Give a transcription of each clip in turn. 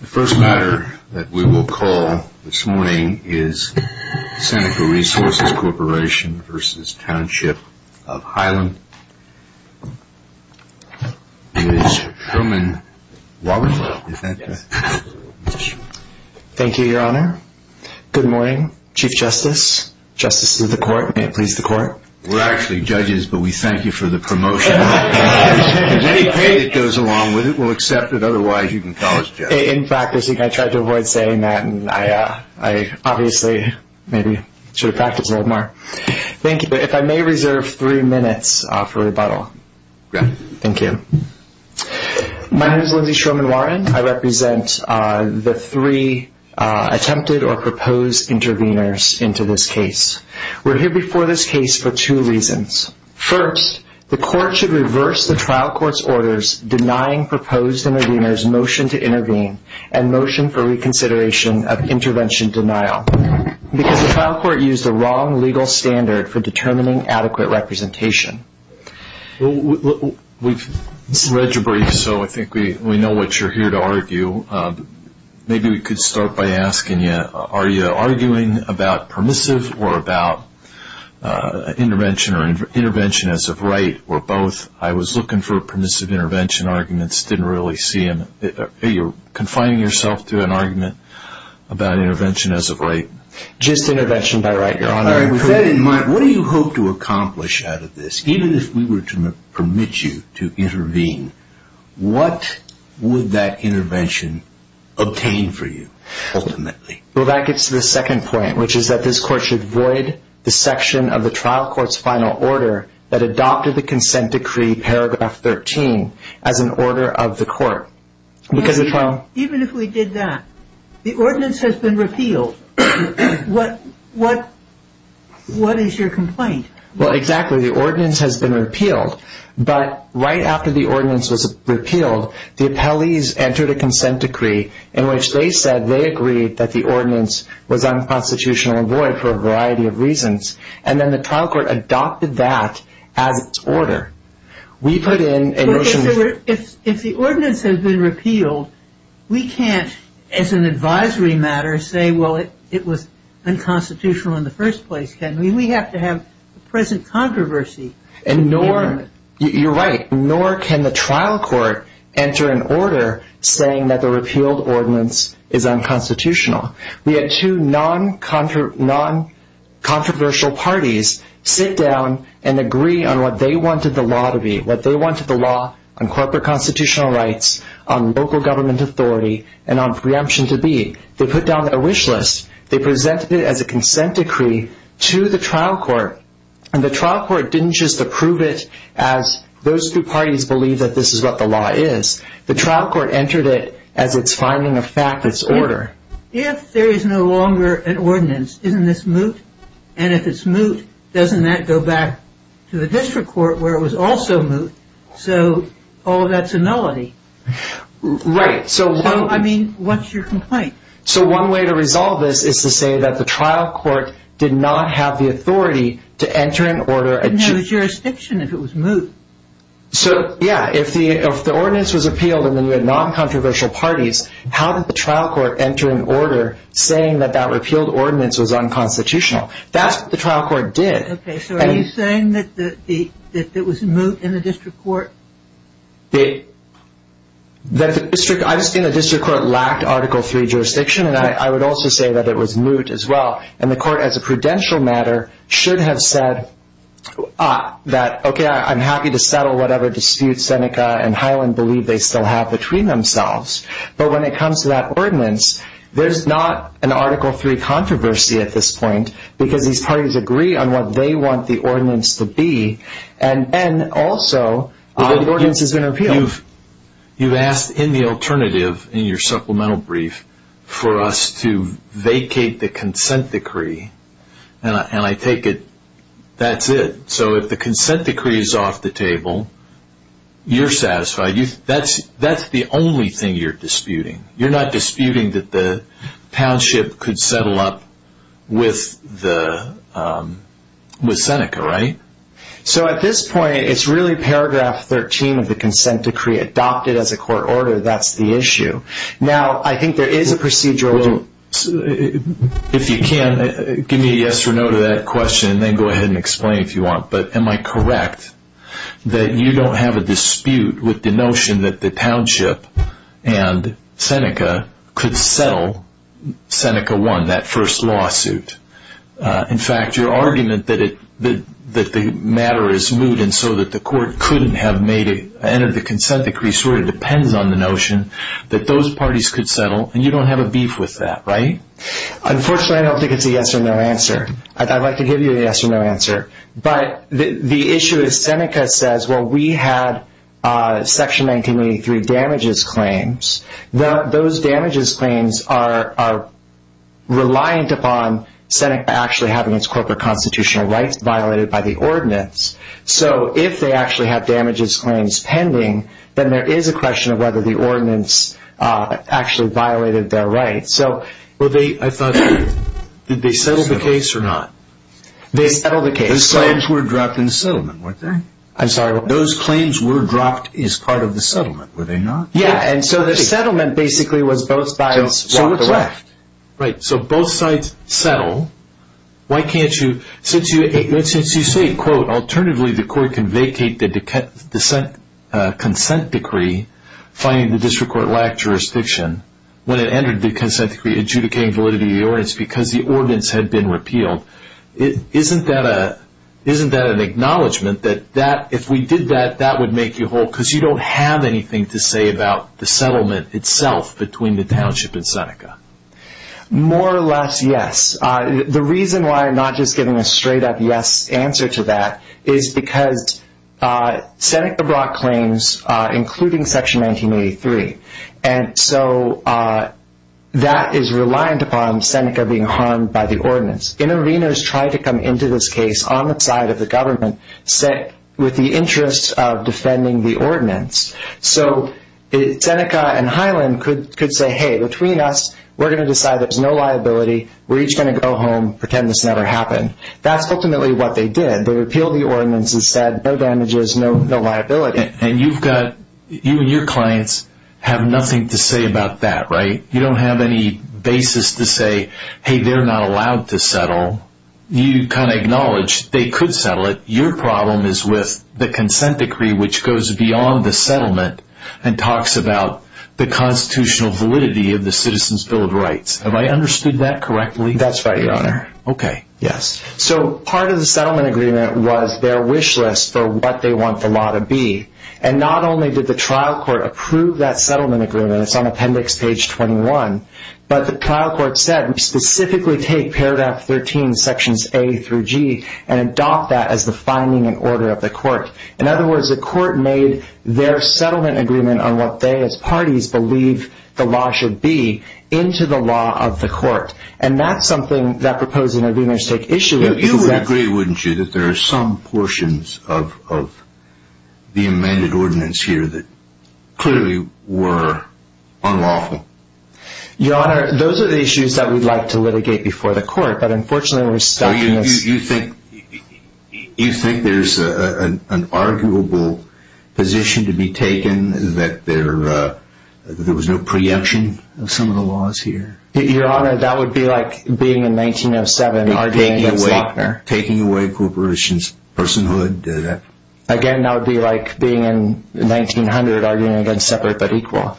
The first matter that we will call this morning is Seneca Resources Corp v. Township of Highland. It is Sherman Waller. Thank you, Your Honor. Good morning, Chief Justice, Justices of the Court, and may it please the Court. We're actually judges, but we thank you for the promotion. If there's any pain that goes along with it, we'll accept it. Otherwise, you can call us judges. In practicing, I tried to avoid saying that, and I obviously maybe should have practiced a little more. Thank you. If I may reserve three minutes for rebuttal. Go ahead. Thank you. My name is Lindsey Sherman Warren. I represent the three attempted or proposed intervenors into this case. We're here before this case for two reasons. First, the Court should reverse the trial court's orders denying proposed intervenors' motion to intervene and motion for reconsideration of intervention denial because the trial court used the wrong legal standard for determining adequate representation. We've read your brief, so I think we know what you're here to argue. Maybe we could start by asking you, are you arguing about permissive or about intervention as of right or both? I was looking for permissive intervention arguments. Didn't really see them. You're confining yourself to an argument about intervention as of right. Just intervention by right, Your Honor. With that in mind, what do you hope to accomplish out of this? Even if we were to permit you to intervene, what would that intervention obtain for you ultimately? Well, that gets to the second point, which is that this Court should void the section of the trial court's final order that adopted the consent decree paragraph 13 as an order of the Court. Even if we did that, the ordinance has been repealed. What is your complaint? Well, exactly. The ordinance has been repealed. But right after the ordinance was repealed, the appellees entered a consent decree in which they said they agreed that the ordinance was unconstitutional and void for a variety of reasons. And then the trial court adopted that as its order. We put in a motion... If the ordinance has been repealed, we can't, as an advisory matter, say, well, it was unconstitutional in the first place, can we? We have to have present controversy. You're right. Nor can the trial court enter an order saying that the repealed ordinance is unconstitutional. We had two non-controversial parties sit down and agree on what they wanted the law to be, what they wanted the law on corporate constitutional rights, on local government authority, and on preemption to be. They put down their wish list. They presented it as a consent decree to the trial court. And the trial court didn't just approve it as those two parties believe that this is what the law is. The trial court entered it as its finding of fact, its order. If there is no longer an ordinance, isn't this moot? And if it's moot, doesn't that go back to the district court where it was also moot? So all of that's a nullity. Right. I mean, what's your complaint? So one way to resolve this is to say that the trial court did not have the authority to enter an order. It didn't have a jurisdiction if it was moot. So, yeah, if the ordinance was appealed and then you had non-controversial parties, how did the trial court enter an order saying that that repealed ordinance was unconstitutional? That's what the trial court did. Okay, so are you saying that it was moot in the district court? I'm just saying the district court lacked Article III jurisdiction, and I would also say that it was moot as well. And the court, as a prudential matter, should have said that, okay, I'm happy to settle whatever disputes Seneca and Highland believe they still have between themselves. But when it comes to that ordinance, there's not an Article III controversy at this point because these parties agree on what they want the ordinance to be. And also, the ordinance has been repealed. You've asked in the alternative in your supplemental brief for us to vacate the consent decree, and I take it that's it. So if the consent decree is off the table, you're satisfied. That's the only thing you're disputing. You're not disputing that the township could settle up with Seneca, right? So at this point, it's really Paragraph 13 of the consent decree adopted as a court order. That's the issue. Now, I think there is a procedural... Well, if you can, give me a yes or no to that question, and then go ahead and explain if you want. But am I correct that you don't have a dispute with the notion that the township and Seneca could settle Seneca 1, that first lawsuit? In fact, your argument that the matter is moot and so that the court couldn't have entered the consent decree sort of depends on the notion that those parties could settle, and you don't have a beef with that, right? Unfortunately, I don't think it's a yes or no answer. I'd like to give you a yes or no answer. But the issue is Seneca says, well, we had Section 1983 damages claims. Those damages claims are reliant upon Seneca actually having its corporate constitutional rights violated by the ordinance. So if they actually have damages claims pending, then there is a question of whether the ordinance actually violated their rights. I thought, did they settle the case or not? They settled the case. Those claims were dropped in the settlement, weren't they? I'm sorry, what? Those claims were dropped as part of the settlement, were they not? Yeah, and so the settlement basically was both sides walked away. Right, so both sides settle. Why can't you... Since you say, quote, alternatively the court can vacate the consent decree finding the district court lacked jurisdiction when it entered the consent decree adjudicating validity of the ordinance because the ordinance had been repealed. Isn't that an acknowledgment that if we did that, that would make you whole? Because you don't have anything to say about the settlement itself between the township and Seneca. More or less, yes. The reason why I'm not just giving a straight up yes answer to that is because Seneca brought claims including Section 1983. And so that is reliant upon Seneca being harmed by the ordinance. Interveners tried to come into this case on the side of the government with the interest of defending the ordinance. So Seneca and Highland could say, hey, between us, we're going to decide there's no liability. We're each going to go home, pretend this never happened. That's ultimately what they did. They repealed the ordinance and said, no damages, no liability. You and your clients have nothing to say about that, right? You don't have any basis to say, hey, they're not allowed to settle. You kind of acknowledge they could settle it. Your problem is with the consent decree which goes beyond the settlement and talks about the constitutional validity of the Citizens' Bill of Rights. Have I understood that correctly? That's right, Your Honor. Okay. Yes. So part of the settlement agreement was their wish list for what they want the law to be. And not only did the trial court approve that settlement agreement, it's on Appendix Page 21, but the trial court said specifically take Paragraph 13, Sections A through G, and adopt that as the finding and order of the court. In other words, the court made their settlement agreement on what they as parties believe the law should be into the law of the court. And that's something that Proposed Interveners take issue with. You would agree, wouldn't you, that there are some portions of the amended ordinance here that clearly were unlawful? Your Honor, those are the issues that we'd like to litigate before the court, but unfortunately we're stuck in this. You think there's an arguable position to be taken that there was no preemption of some of the laws here? Your Honor, that would be like being in 1907 arguing against Lochner. Taking away corporations' personhood? Again, that would be like being in 1900 arguing against separate but equal.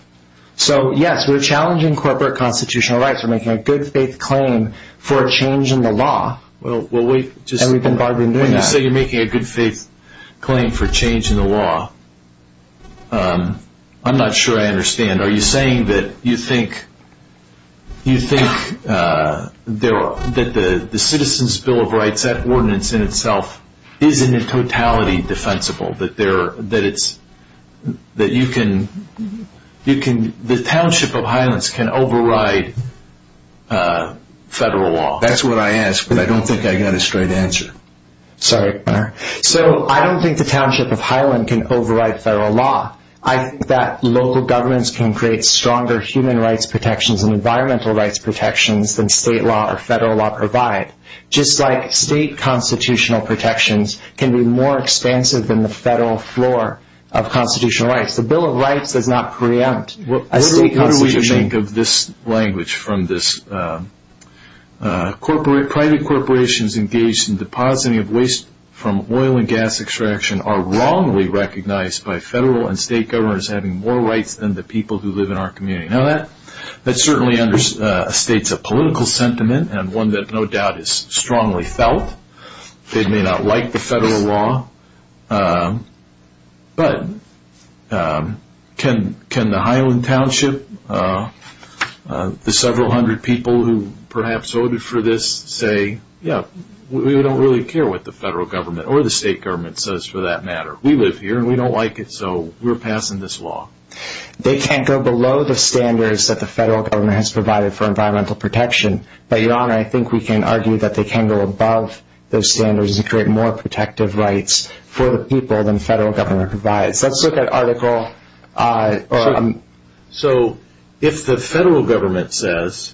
So, yes, we're challenging corporate constitutional rights. We're making a good faith claim for a change in the law, and we've been barred from doing that. When you say you're making a good faith claim for a change in the law, I'm not sure I understand. Are you saying that you think that the Citizens' Bill of Rights, that ordinance in itself, isn't in totality defensible? That the Township of Highlands can override federal law? That's what I asked, but I don't think I got a straight answer. Sorry, Your Honor. So I don't think the Township of Highland can override federal law. I think that local governments can create stronger human rights protections and environmental rights protections than state law or federal law provide. Just like state constitutional protections can be more expansive than the federal floor of constitutional rights. The Bill of Rights does not preempt a state constitution. Private corporations engaged in depositing of waste from oil and gas extraction are wrongly recognized by federal and state governments as having more rights than the people who live in our community. Now that certainly states a political sentiment and one that no doubt is strongly felt. They may not like the federal law, but can the Highland Township, the several hundred people who perhaps voted for this, say, yeah, we don't really care what the federal government or the state government says for that matter. We live here and we don't like it, so we're passing this law. They can't go below the standards that the federal government has provided for environmental protection, but, Your Honor, I think we can argue that they can go above those standards and create more protective rights for the people than the federal government provides. Let's look at Article… So if the federal government says,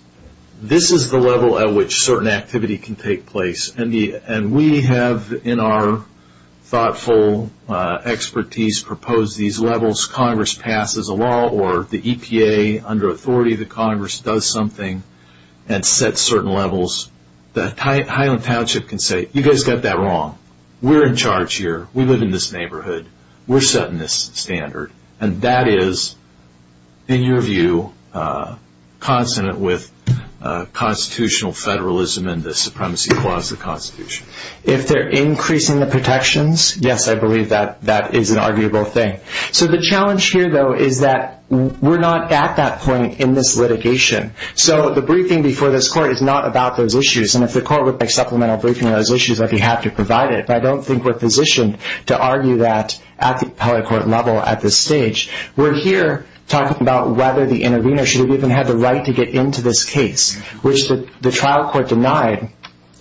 this is the level at which certain activity can take place, and we have in our thoughtful expertise proposed these levels, Congress passes a law or the EPA under authority of the Congress does something and sets certain levels, the Highland Township can say, you guys got that wrong. We're in charge here. We live in this neighborhood. We're setting this standard. And that is, in your view, consonant with constitutional federalism and the supremacy clause of the Constitution. If they're increasing the protections, yes, I believe that that is an arguable thing. So the challenge here, though, is that we're not at that point in this litigation. So the briefing before this court is not about those issues. And if the court would make supplemental briefing on those issues, I'd be happy to provide it. But I don't think we're positioned to argue that at the appellate court level at this stage. We're here talking about whether the intervener should have even had the right to get into this case, which the trial court denied.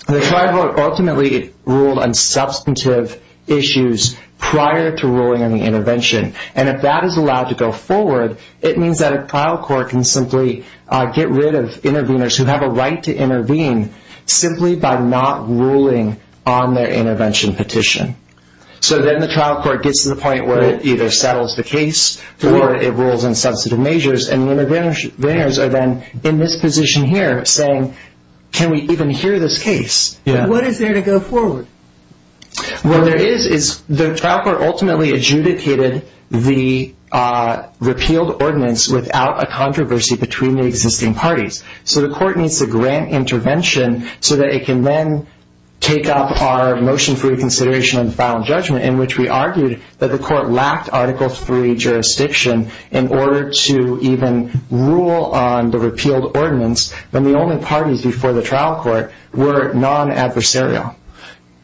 The trial court ultimately ruled on substantive issues prior to ruling on the intervention. And if that is allowed to go forward, it means that a trial court can simply get rid of interveners who have a right to intervene simply by not ruling on their intervention petition. So then the trial court gets to the point where it either settles the case or it rules on substantive measures. And the interveners are then in this position here saying, can we even hear this case? What is there to go forward? What there is is the trial court ultimately adjudicated the repealed ordinance without a controversy between the existing parties. So the court needs to grant intervention so that it can then take up our motion for reconsideration in which we argued that the court lacked Article III jurisdiction in order to even rule on the repealed ordinance when the only parties before the trial court were non-adversarial.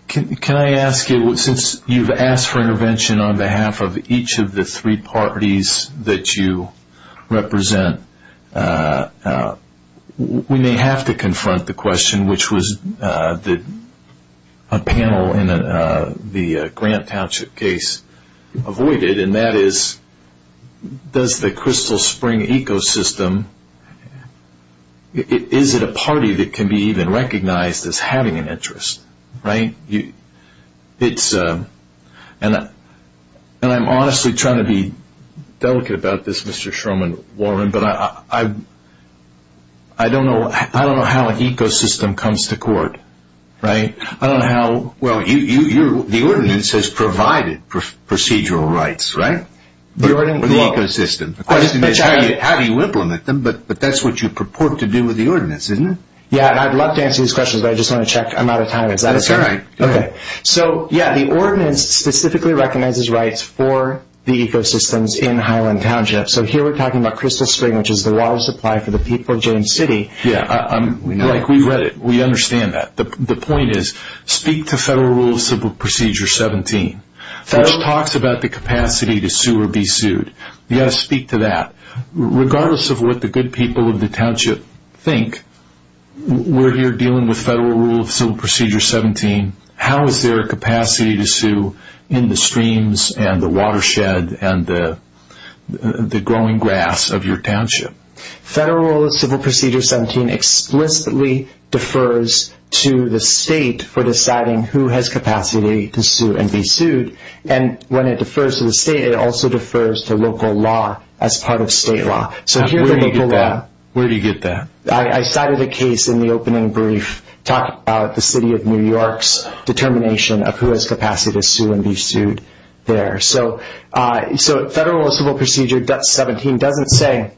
Can I ask you, since you've asked for intervention on behalf of each of the three parties that you represent, we may have to confront the question which was a panel in the Grant Township case avoided, and that is, does the Crystal Spring ecosystem, is it a party that can be even recognized as having an interest? And I'm honestly trying to be delicate about this, Mr. Sherman-Warren, but I don't know how an ecosystem comes to court. I don't know how... Well, the ordinance has provided procedural rights, right? The ordinance... For the ecosystem. The question is, how do you implement them? But that's what you purport to do with the ordinance, isn't it? Yeah, and I'd love to answer these questions, but I just want to check. I'm out of time. Is that okay? That's all right. Okay. So, yeah, the ordinance specifically recognizes rights for the ecosystems in Highland Township. So here we're talking about Crystal Spring, which is the water supply for the people of James City. Yeah, we've read it. We understand that. The point is, speak to Federal Rule of Procedure 17, which talks about the capacity to sue or be sued. You've got to speak to that. Regardless of what the good people of the township think, we're here dealing with Federal Rule of Civil Procedure 17. How is there a capacity to sue in the streams and the watershed and the growing grass of your township? Federal Rule of Civil Procedure 17 explicitly defers to the state for deciding who has capacity to sue and be sued. And when it defers to the state, it also defers to local law as part of state law. Where do you get that? I cited a case in the opening brief talking about the City of New York's determination of who has capacity to sue and be sued there. So Federal Rule of Civil Procedure 17 doesn't say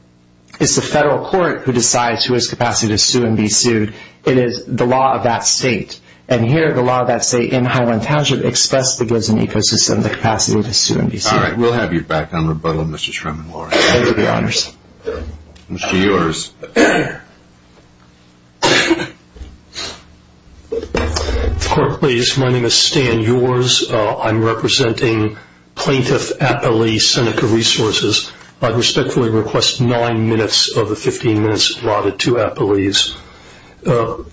it's the federal court who decides who has capacity to sue and be sued. It is the law of that state. And here, the law of that state in Highland Township expressly gives an ecosystem the capacity to sue and be sued. All right. We'll have you back on rebuttal, Mr. Sherman-Lorenz. Thank you, Your Honors. Mr. Yores. Court, please. My name is Stan Yores. I'm representing Plaintiff Appellee Seneca Resources. I respectfully request nine minutes of the 15 minutes allotted to appellees.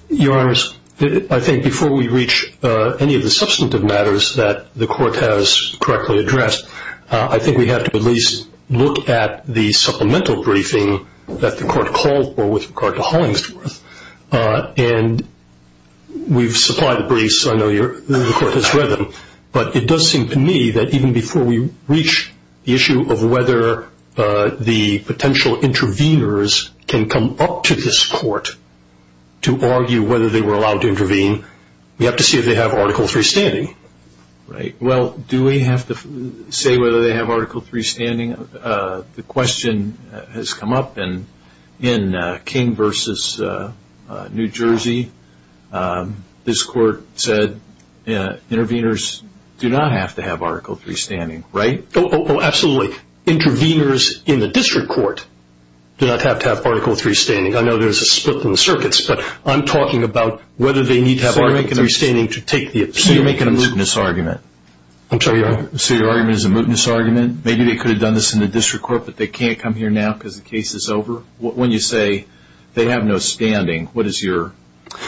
Your Honors, I think before we reach any of the substantive matters that the court has correctly addressed, I think we have to at least look at the supplemental briefing that the court called for with regard to Hollingsworth. And we've supplied the briefs. I know the court has read them. But it does seem to me that even before we reach the issue of whether the potential interveners can come up to this court to argue whether they were allowed to intervene, we have to see if they have Article III standing. Right. Well, do we have to say whether they have Article III standing? The question has come up in King v. New Jersey. This court said interveners do not have to have Article III standing, right? Oh, absolutely. Interveners in the district court do not have to have Article III standing. I know there's a split in the circuits, but I'm talking about whether they need to have Article III standing to take the appeal. So you're making a mootness argument. I'm sorry, Your Honor. So your argument is a mootness argument? Maybe they could have done this in the district court, but they can't come here now because the case is over? When you say they have no standing, what is your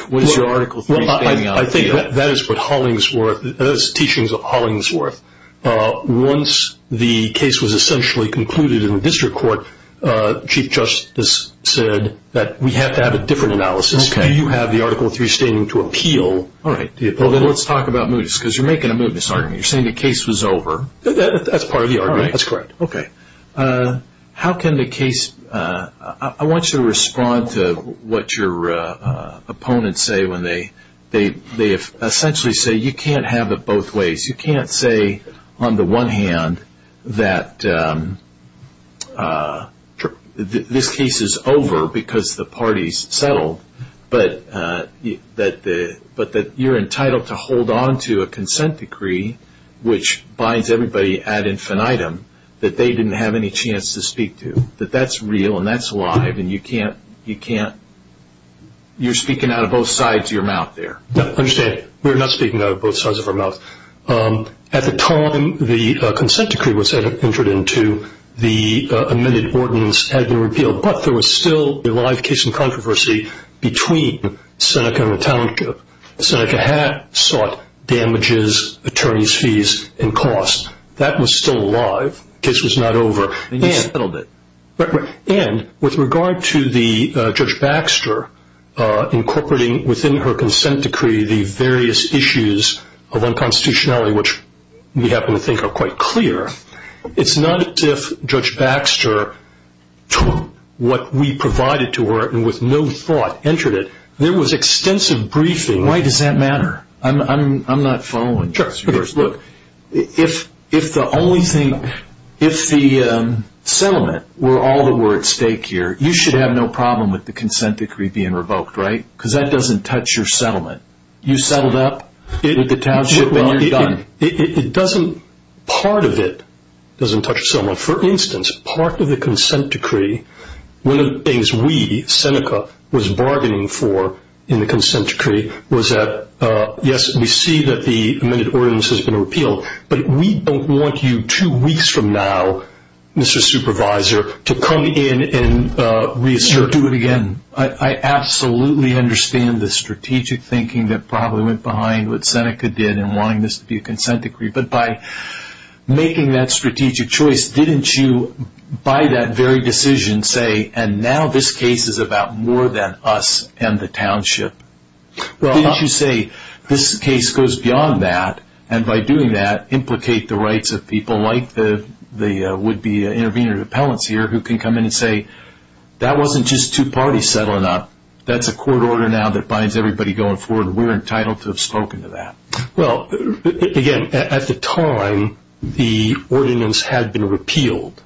Article III standing on? I think that is what Hollingsworth – that is the teachings of Hollingsworth. Once the case was essentially concluded in the district court, Chief Justice said that we have to have a different analysis. Do you have the Article III standing to appeal? All right. Well, then let's talk about mootness, because you're making a mootness argument. You're saying the case was over. That's part of the argument. That's correct. Okay. How can the case – I want you to respond to what your opponents say when they essentially say you can't have it both ways. You can't say, on the one hand, that this case is over because the parties settled, but that you're entitled to hold on to a consent decree which binds everybody ad infinitum that they didn't have any chance to speak to. That that's real and that's live, and you can't – you're speaking out of both sides of your mouth there. Understand, we're not speaking out of both sides of our mouths. At the time the consent decree was entered into, the amended ordinance had been repealed, but there was still a live case in controversy between Seneca and the township. Seneca had sought damages, attorney's fees, and costs. That was still alive. The case was not over. And you settled it. And with regard to Judge Baxter incorporating within her consent decree the various issues of unconstitutionality, which we happen to think are quite clear, it's not as if Judge Baxter took what we provided to her and with no thought entered it. There was extensive briefing. Why does that matter? I'm not following. Look, if the only thing – if the settlement were all that were at stake here, you should have no problem with the consent decree being revoked, right? Because that doesn't touch your settlement. You settled up with the township and you're done. It doesn't – part of it doesn't touch the settlement. For instance, part of the consent decree, one of the things we, Seneca, was bargaining for in the consent decree was that, yes, we see that the amended ordinance has been repealed, but we don't want you two weeks from now, Mr. Supervisor, to come in and reassert. Do it again. I absolutely understand the strategic thinking that probably went behind what Seneca did in wanting this to be a consent decree, but by making that strategic choice, didn't you, by that very decision, say, and now this case is about more than us and the township, didn't you say this case goes beyond that and, by doing that, implicate the rights of people like the would-be intervener of appellants here who can come in and say, hey, that wasn't just two parties settling up. That's a court order now that binds everybody going forward. We're entitled to have spoken to that. Well, again, at the time, the ordinance had been repealed.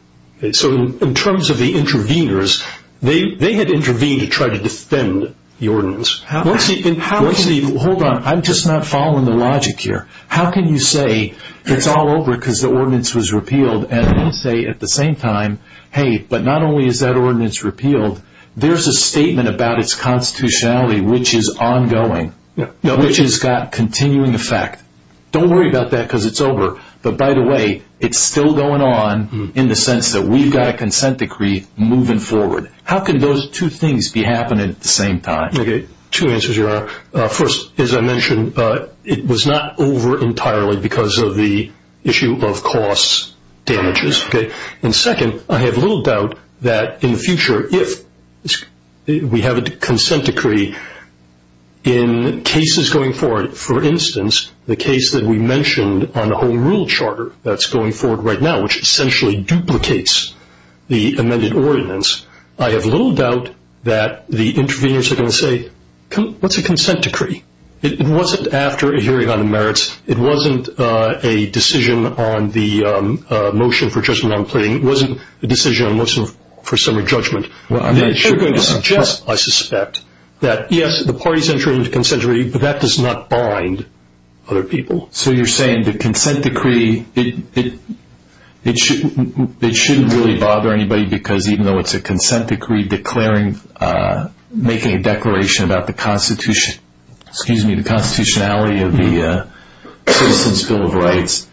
So in terms of the interveners, they had intervened to try to defend the ordinance. Hold on. I'm just not following the logic here. How can you say it's all over because the ordinance was repealed and then say at the same time, hey, but not only is that ordinance repealed, there's a statement about its constitutionality which is ongoing, which has got continuing effect. Don't worry about that because it's over. But, by the way, it's still going on in the sense that we've got a consent decree moving forward. How can those two things be happening at the same time? Two answers, Your Honor. First, as I mentioned, it was not over entirely because of the issue of cost damages. And, second, I have little doubt that in the future, if we have a consent decree in cases going forward, for instance, the case that we mentioned on the Home Rule Charter that's going forward right now, which essentially duplicates the amended ordinance, I have little doubt that the interveners are going to say, what's a consent decree? It wasn't after a hearing on the merits. It wasn't a decision on the motion for judgment on a plea. It wasn't a decision on a motion for summary judgment. They're going to suggest, I suspect, that, yes, the parties entered into a consent decree, but that does not bind other people. So you're saying the consent decree, it shouldn't really bother anybody because even though it's a consent decree, making a declaration about the constitutionality of the Citizens' Bill of Rights,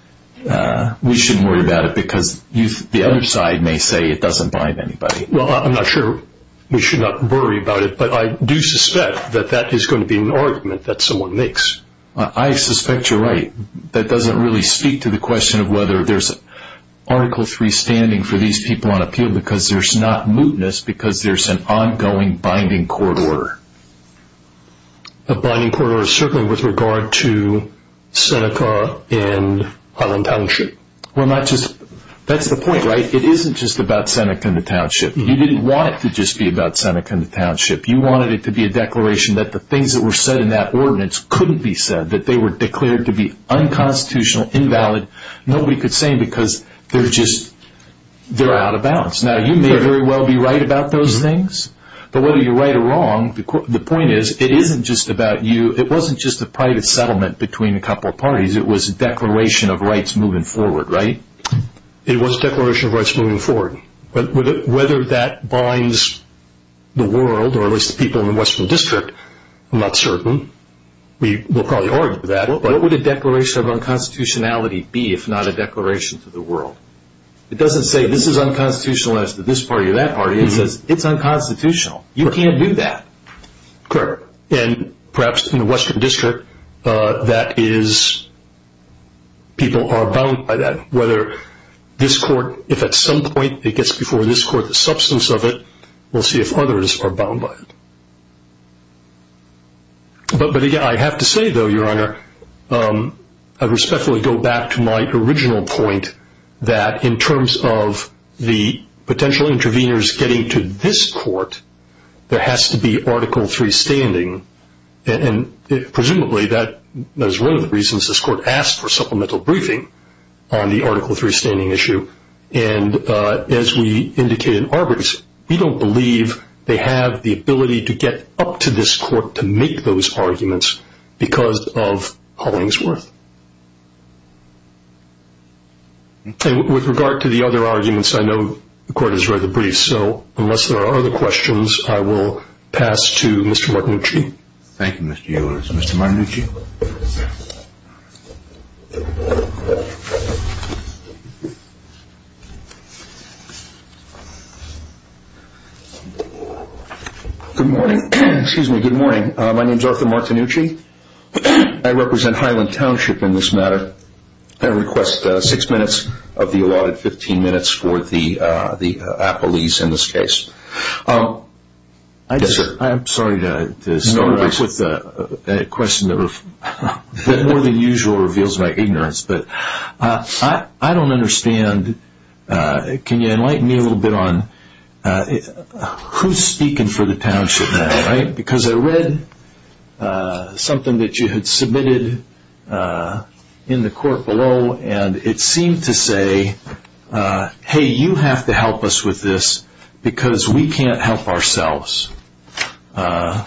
we shouldn't worry about it because the other side may say it doesn't bind anybody. Well, I'm not sure we should not worry about it, but I do suspect that that is going to be an argument that someone makes. I suspect you're right. That doesn't really speak to the question of whether there's Article III standing for these people on appeal because there's not mootness because there's an ongoing binding court order. A binding court order certainly with regard to Seneca and Highland Township. That's the point, right? It isn't just about Seneca and the township. You didn't want it to just be about Seneca and the township. You wanted it to be a declaration that the things that were said in that ordinance couldn't be said, that they were declared to be unconstitutional, invalid. Nobody could say them because they're out of bounds. Now, you may very well be right about those things, but whether you're right or wrong, the point is it wasn't just a private settlement between a couple of parties. It was a declaration of rights moving forward, right? It was a declaration of rights moving forward, but whether that binds the world or at least the people in the Western District, I'm not certain. We'll probably argue that. What would a declaration of unconstitutionality be if not a declaration to the world? It doesn't say this is unconstitutional as to this party or that party. It says it's unconstitutional. You can't do that. Correct. And perhaps in the Western District that is people are bound by that, whether this court, if at some point it gets before this court, the substance of it, we'll see if others are bound by it. But, again, I have to say, though, Your Honor, I respectfully go back to my original point that in terms of the potential interveners getting to this court, there has to be Article III standing. And presumably that is one of the reasons this court asked for supplemental briefing on the Article III standing issue. And as we indicated in Arbergs, we don't believe they have the ability to get up to this court to make those arguments because of Hollingsworth. And with regard to the other arguments, I know the Court has read the briefs, so unless there are other questions, I will pass to Mr. Martinucci. Thank you, Mr. Eulers. Mr. Martinucci. Good morning. Excuse me. Good morning. My name is Arthur Martinucci. I represent Highland Township in this matter. I request six minutes of the allotted 15 minutes for the appellees in this case. Yes, sir. I'm sorry to start off with a question that more than usual reveals my ignorance. I don't understand. Can you enlighten me a little bit on who is speaking for the township now? Because I read something that you had submitted in the court below, and it seemed to say, hey, you have to help us with this because we can't help ourselves. It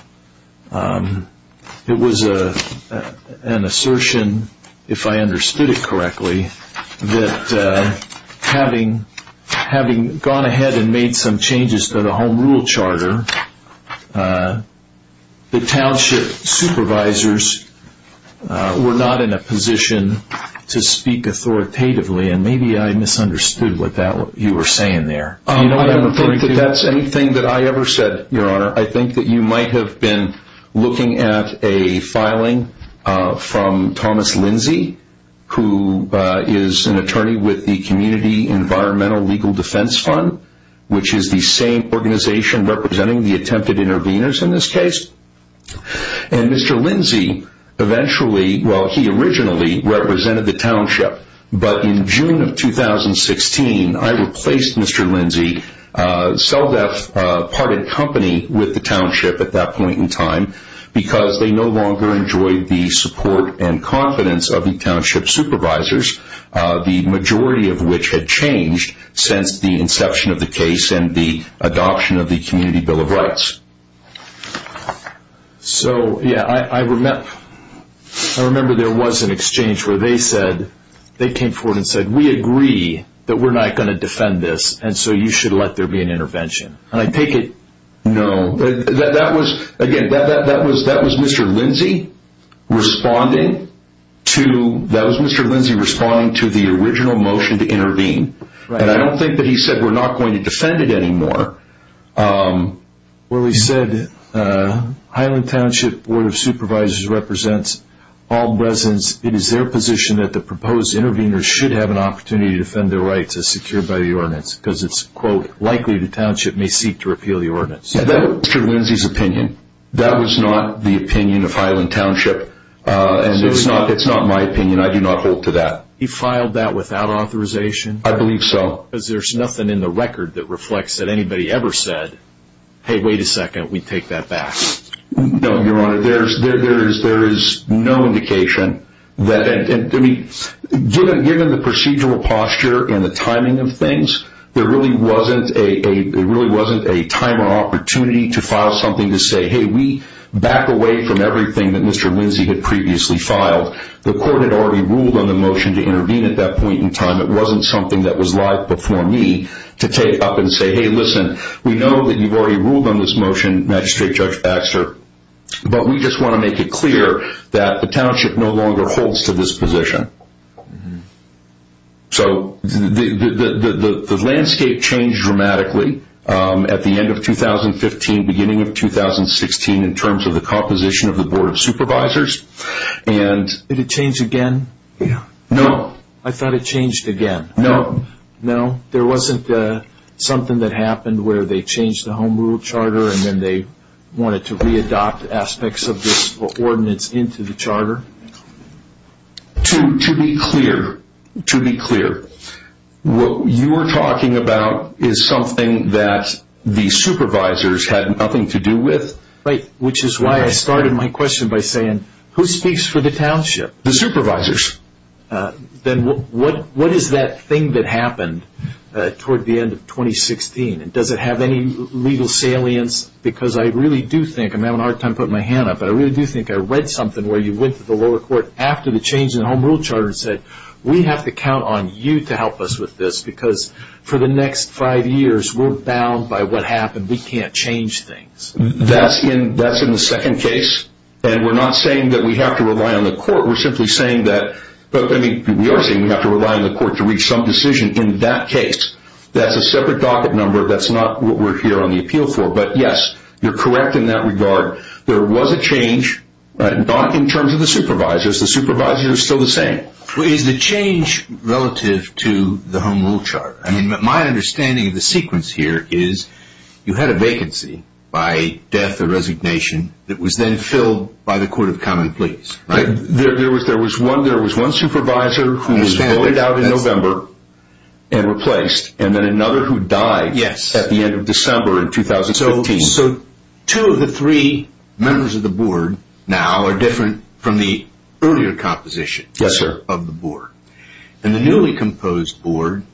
was an assertion, if I understood it correctly, that having gone ahead and made some changes to the home rule charter, the township supervisors were not in a position to speak authoritatively, and maybe I misunderstood what you were saying there. I don't think that that's anything that I ever said, Your Honor. I think that you might have been looking at a filing from Thomas Lindsay, who is an attorney with the Community Environmental Legal Defense Fund, which is the same organization representing the attempted intervenors in this case. And Mr. Lindsay eventually, well, he originally represented the township, but in June of 2016, I replaced Mr. Lindsay seldom part in company with the township at that point in time because they no longer enjoyed the support and confidence of the township supervisors, the majority of which had changed since the inception of the case and the adoption of the Community Bill of Rights. So, yeah, I remember there was an exchange where they said, they came forward and said, we agree that we're not going to defend this, and so you should let there be an intervention. And I take it, no, that was, again, that was Mr. Lindsay responding to, that was Mr. Lindsay responding to the original motion to intervene. And I don't think that he said we're not going to defend it anymore. Well, he said Highland Township Board of Supervisors represents all residents. It is their position that the proposed intervenors should have an opportunity to defend their rights as secured by the ordinance because it's, quote, likely the township may seek to repeal the ordinance. That was Mr. Lindsay's opinion. That was not the opinion of Highland Township, and it's not my opinion. I do not hold to that. He filed that without authorization? I believe so. Well, because there's nothing in the record that reflects that anybody ever said, hey, wait a second, we take that back. No, Your Honor. There is no indication that, I mean, given the procedural posture and the timing of things, there really wasn't a time or opportunity to file something to say, hey, we back away from everything that Mr. Lindsay had previously filed. The court had already ruled on the motion to intervene at that point in time. It wasn't something that was live before me to take up and say, hey, listen, we know that you've already ruled on this motion, Magistrate Judge Baxter, but we just want to make it clear that the township no longer holds to this position. So the landscape changed dramatically at the end of 2015, beginning of 2016, in terms of the composition of the Board of Supervisors. Did it change again? No. I thought it changed again. No. No? There wasn't something that happened where they changed the home rule charter and then they wanted to re-adopt aspects of this ordinance into the charter? To be clear, what you are talking about is something that the supervisors had nothing to do with. Right, which is why I started my question by saying, who speaks for the township? The supervisors. Then what is that thing that happened toward the end of 2016? Does it have any legal salience? Because I really do think, I'm having a hard time putting my hand up, but I really do think I read something where you went to the lower court after the change in the home rule charter and said, we have to count on you to help us with this because for the next five years, we're bound by what happened. We can't change things. That's in the second case, and we're not saying that we have to rely on the court. We're simply saying that we are saying we have to rely on the court to reach some decision in that case. That's a separate docket number. That's not what we're here on the appeal for. But, yes, you're correct in that regard. There was a change, not in terms of the supervisors. The supervisors are still the same. Is the change relative to the home rule charter? My understanding of the sequence here is you had a vacancy by death or resignation that was then filled by the court of common pleas. There was one supervisor who was laid out in November and replaced, and then another who died at the end of December in 2015. So two of the three members of the board now are different from the earlier composition of the board. And the newly composed board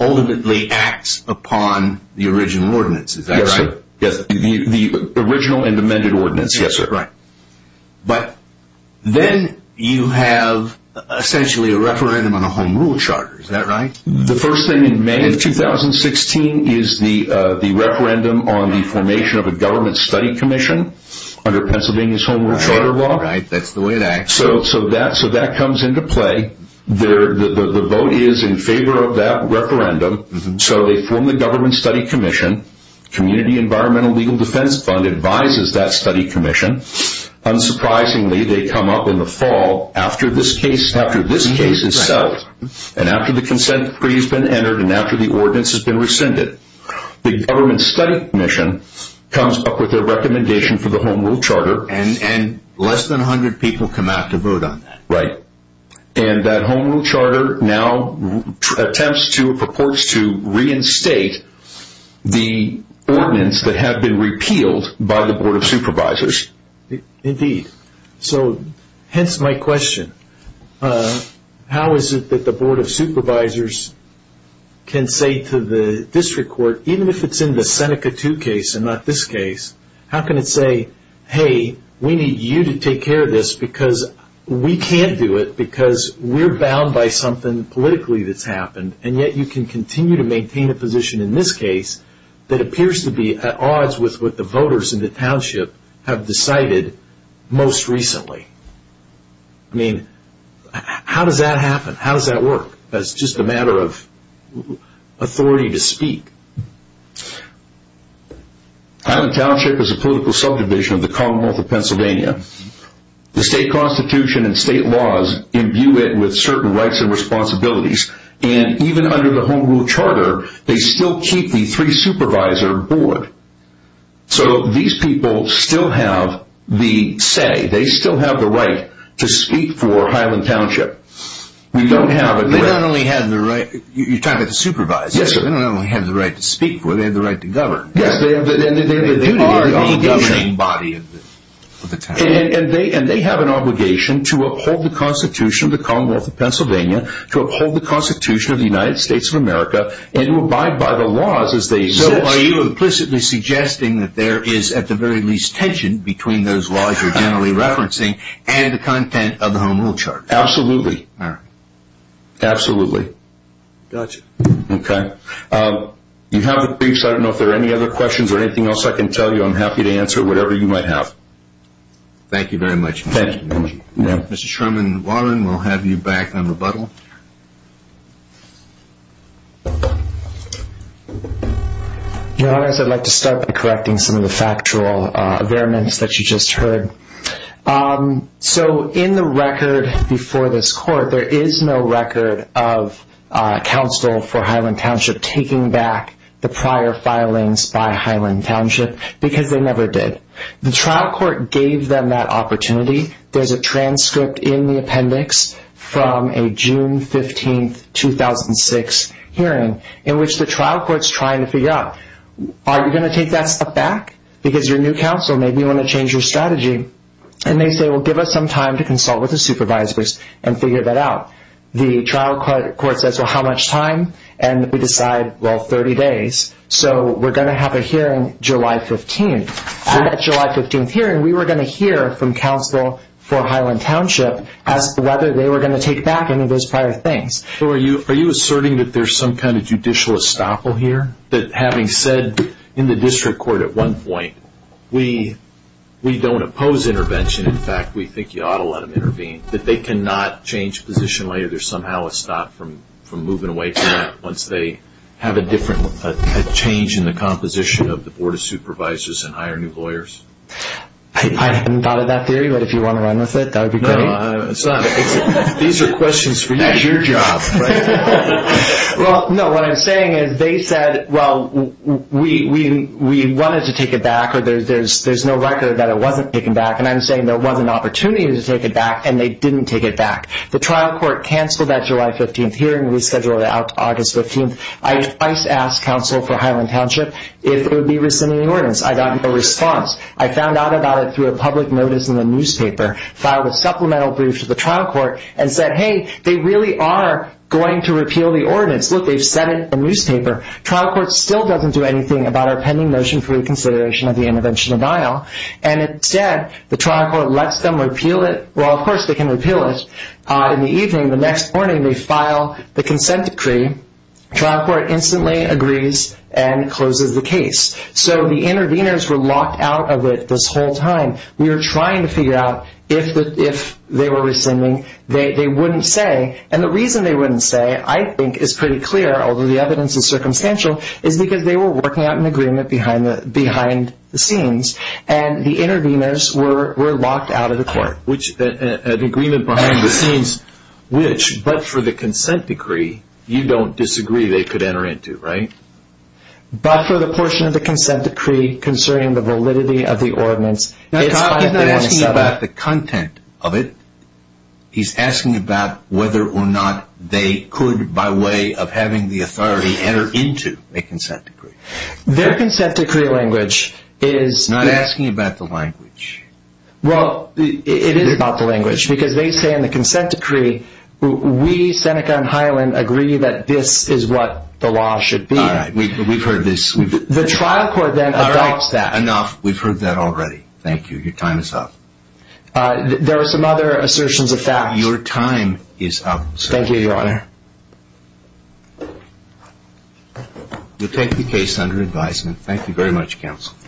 ultimately acts upon the original ordinance. Is that right? The original and amended ordinance. Yes, sir. All right. But then you have essentially a referendum on a home rule charter. Is that right? The first thing in May of 2016 is the referendum on the formation of a government study commission under Pennsylvania's home rule charter law. Right. That's the way it acts. So that comes into play. The vote is in favor of that referendum. So they form the government study commission. Community Environmental Legal Defense Fund advises that study commission. Unsurprisingly, they come up in the fall after this case is settled and after the consent decree has been entered and after the ordinance has been rescinded. The government study commission comes up with a recommendation for the home rule charter. And less than 100 people come out to vote on that. Right. And that home rule charter now attempts to or purports to reinstate the ordinance that had been repealed by the Board of Supervisors. Indeed. So hence my question. How is it that the Board of Supervisors can say to the district court, even if it's in the Seneca 2 case and not this case, how can it say, hey, we need you to take care of this because we can't do it because we're bound by something politically that's happened. And yet you can continue to maintain a position in this case that appears to be at odds with what the voters in the township have decided most recently. I mean, how does that happen? How does that work? That's just a matter of authority to speak. Highland Township is a political subdivision of the Commonwealth of Pennsylvania. The state constitution and state laws imbue it with certain rights and responsibilities. And even under the home rule charter, they still keep the three supervisor board. So these people still have the say. They still have the right to speak for Highland Township. You're talking about the supervisors. Yes, sir. They not only have the right to speak for it, they have the right to govern. Yes, they are the governing body of the town. And they have an obligation to uphold the constitution of the Commonwealth of Pennsylvania, to uphold the constitution of the United States of America, and to abide by the laws as they exist. So are you implicitly suggesting that there is at the very least tension between those laws you're generally referencing and the content of the home rule charter? Absolutely. All right. Absolutely. Gotcha. Okay. You have the briefs. I don't know if there are any other questions or anything else I can tell you. I'm happy to answer whatever you might have. Thank you very much. Thank you. Mr. Sherman Warren, we'll have you back on rebuttal. Your Honor, I'd like to start by correcting some of the factual variants that you just heard. So in the record before this court, there is no record of counsel for Highland Township taking back the prior filings by Highland Township because they never did. The trial court gave them that opportunity. There's a transcript in the appendix from a June 15, 2006 hearing in which the trial court's trying to figure out, are you going to take that step back? Because your new counsel, maybe you want to change your strategy. And they say, well, give us some time to consult with the supervisors and figure that out. The trial court says, well, how much time? And we decide, well, 30 days. So we're going to have a hearing July 15th. At that July 15th hearing, we were going to hear from counsel for Highland Township as to whether they were going to take back any of those prior things. So are you asserting that there's some kind of judicial estoppel here, that having said in the district court at one point, we don't oppose intervention. In fact, we think you ought to let them intervene, that they cannot change position later. There's somehow a stop from moving away from that once they have a different change in the composition of the Board of Supervisors and hire new lawyers? I haven't thought of that theory, but if you want to run with it, that would be great. No, it's not. These are questions for you. That's your job. Well, no, what I'm saying is they said, well, we wanted to take it back, or there's no record that it wasn't taken back, and I'm saying there wasn't an opportunity to take it back, and they didn't take it back. The trial court canceled that July 15th hearing. We scheduled it out August 15th. I twice asked counsel for Highland Township if it would be rescinding the ordinance. I got no response. I found out about it through a public notice in the newspaper, filed a supplemental brief to the trial court, and said, hey, they really are going to repeal the ordinance. Look, they've said it in the newspaper. Trial court still doesn't do anything about our pending notion for reconsideration of the intervention denial, and instead the trial court lets them repeal it. Well, of course they can repeal it. In the evening, the next morning, they file the consent decree. Trial court instantly agrees and closes the case. So the interveners were locked out of it this whole time. We were trying to figure out if they were rescinding. They wouldn't say, and the reason they wouldn't say, I think, is pretty clear, although the evidence is circumstantial, is because they were working out an agreement behind the scenes, and the interveners were locked out of the court. An agreement behind the scenes, which, but for the consent decree, you don't disagree they could enter into, right? But for the portion of the consent decree concerning the validity of the ordinance. He's not asking about the content of it. He's asking about whether or not they could, by way of having the authority, enter into a consent decree. Their consent decree language is... He's not asking about the language. Well, it is about the language, because they say in the consent decree, we, Seneca and Hyland, agree that this is what the law should be. All right, we've heard this. The trial court then adopts that. Enough. We've heard that already. Thank you. Your time is up. There are some other assertions of facts. Your time is up, sir. Thank you, Your Honor. You'll take the case under advisement. Thank you very much, counsel.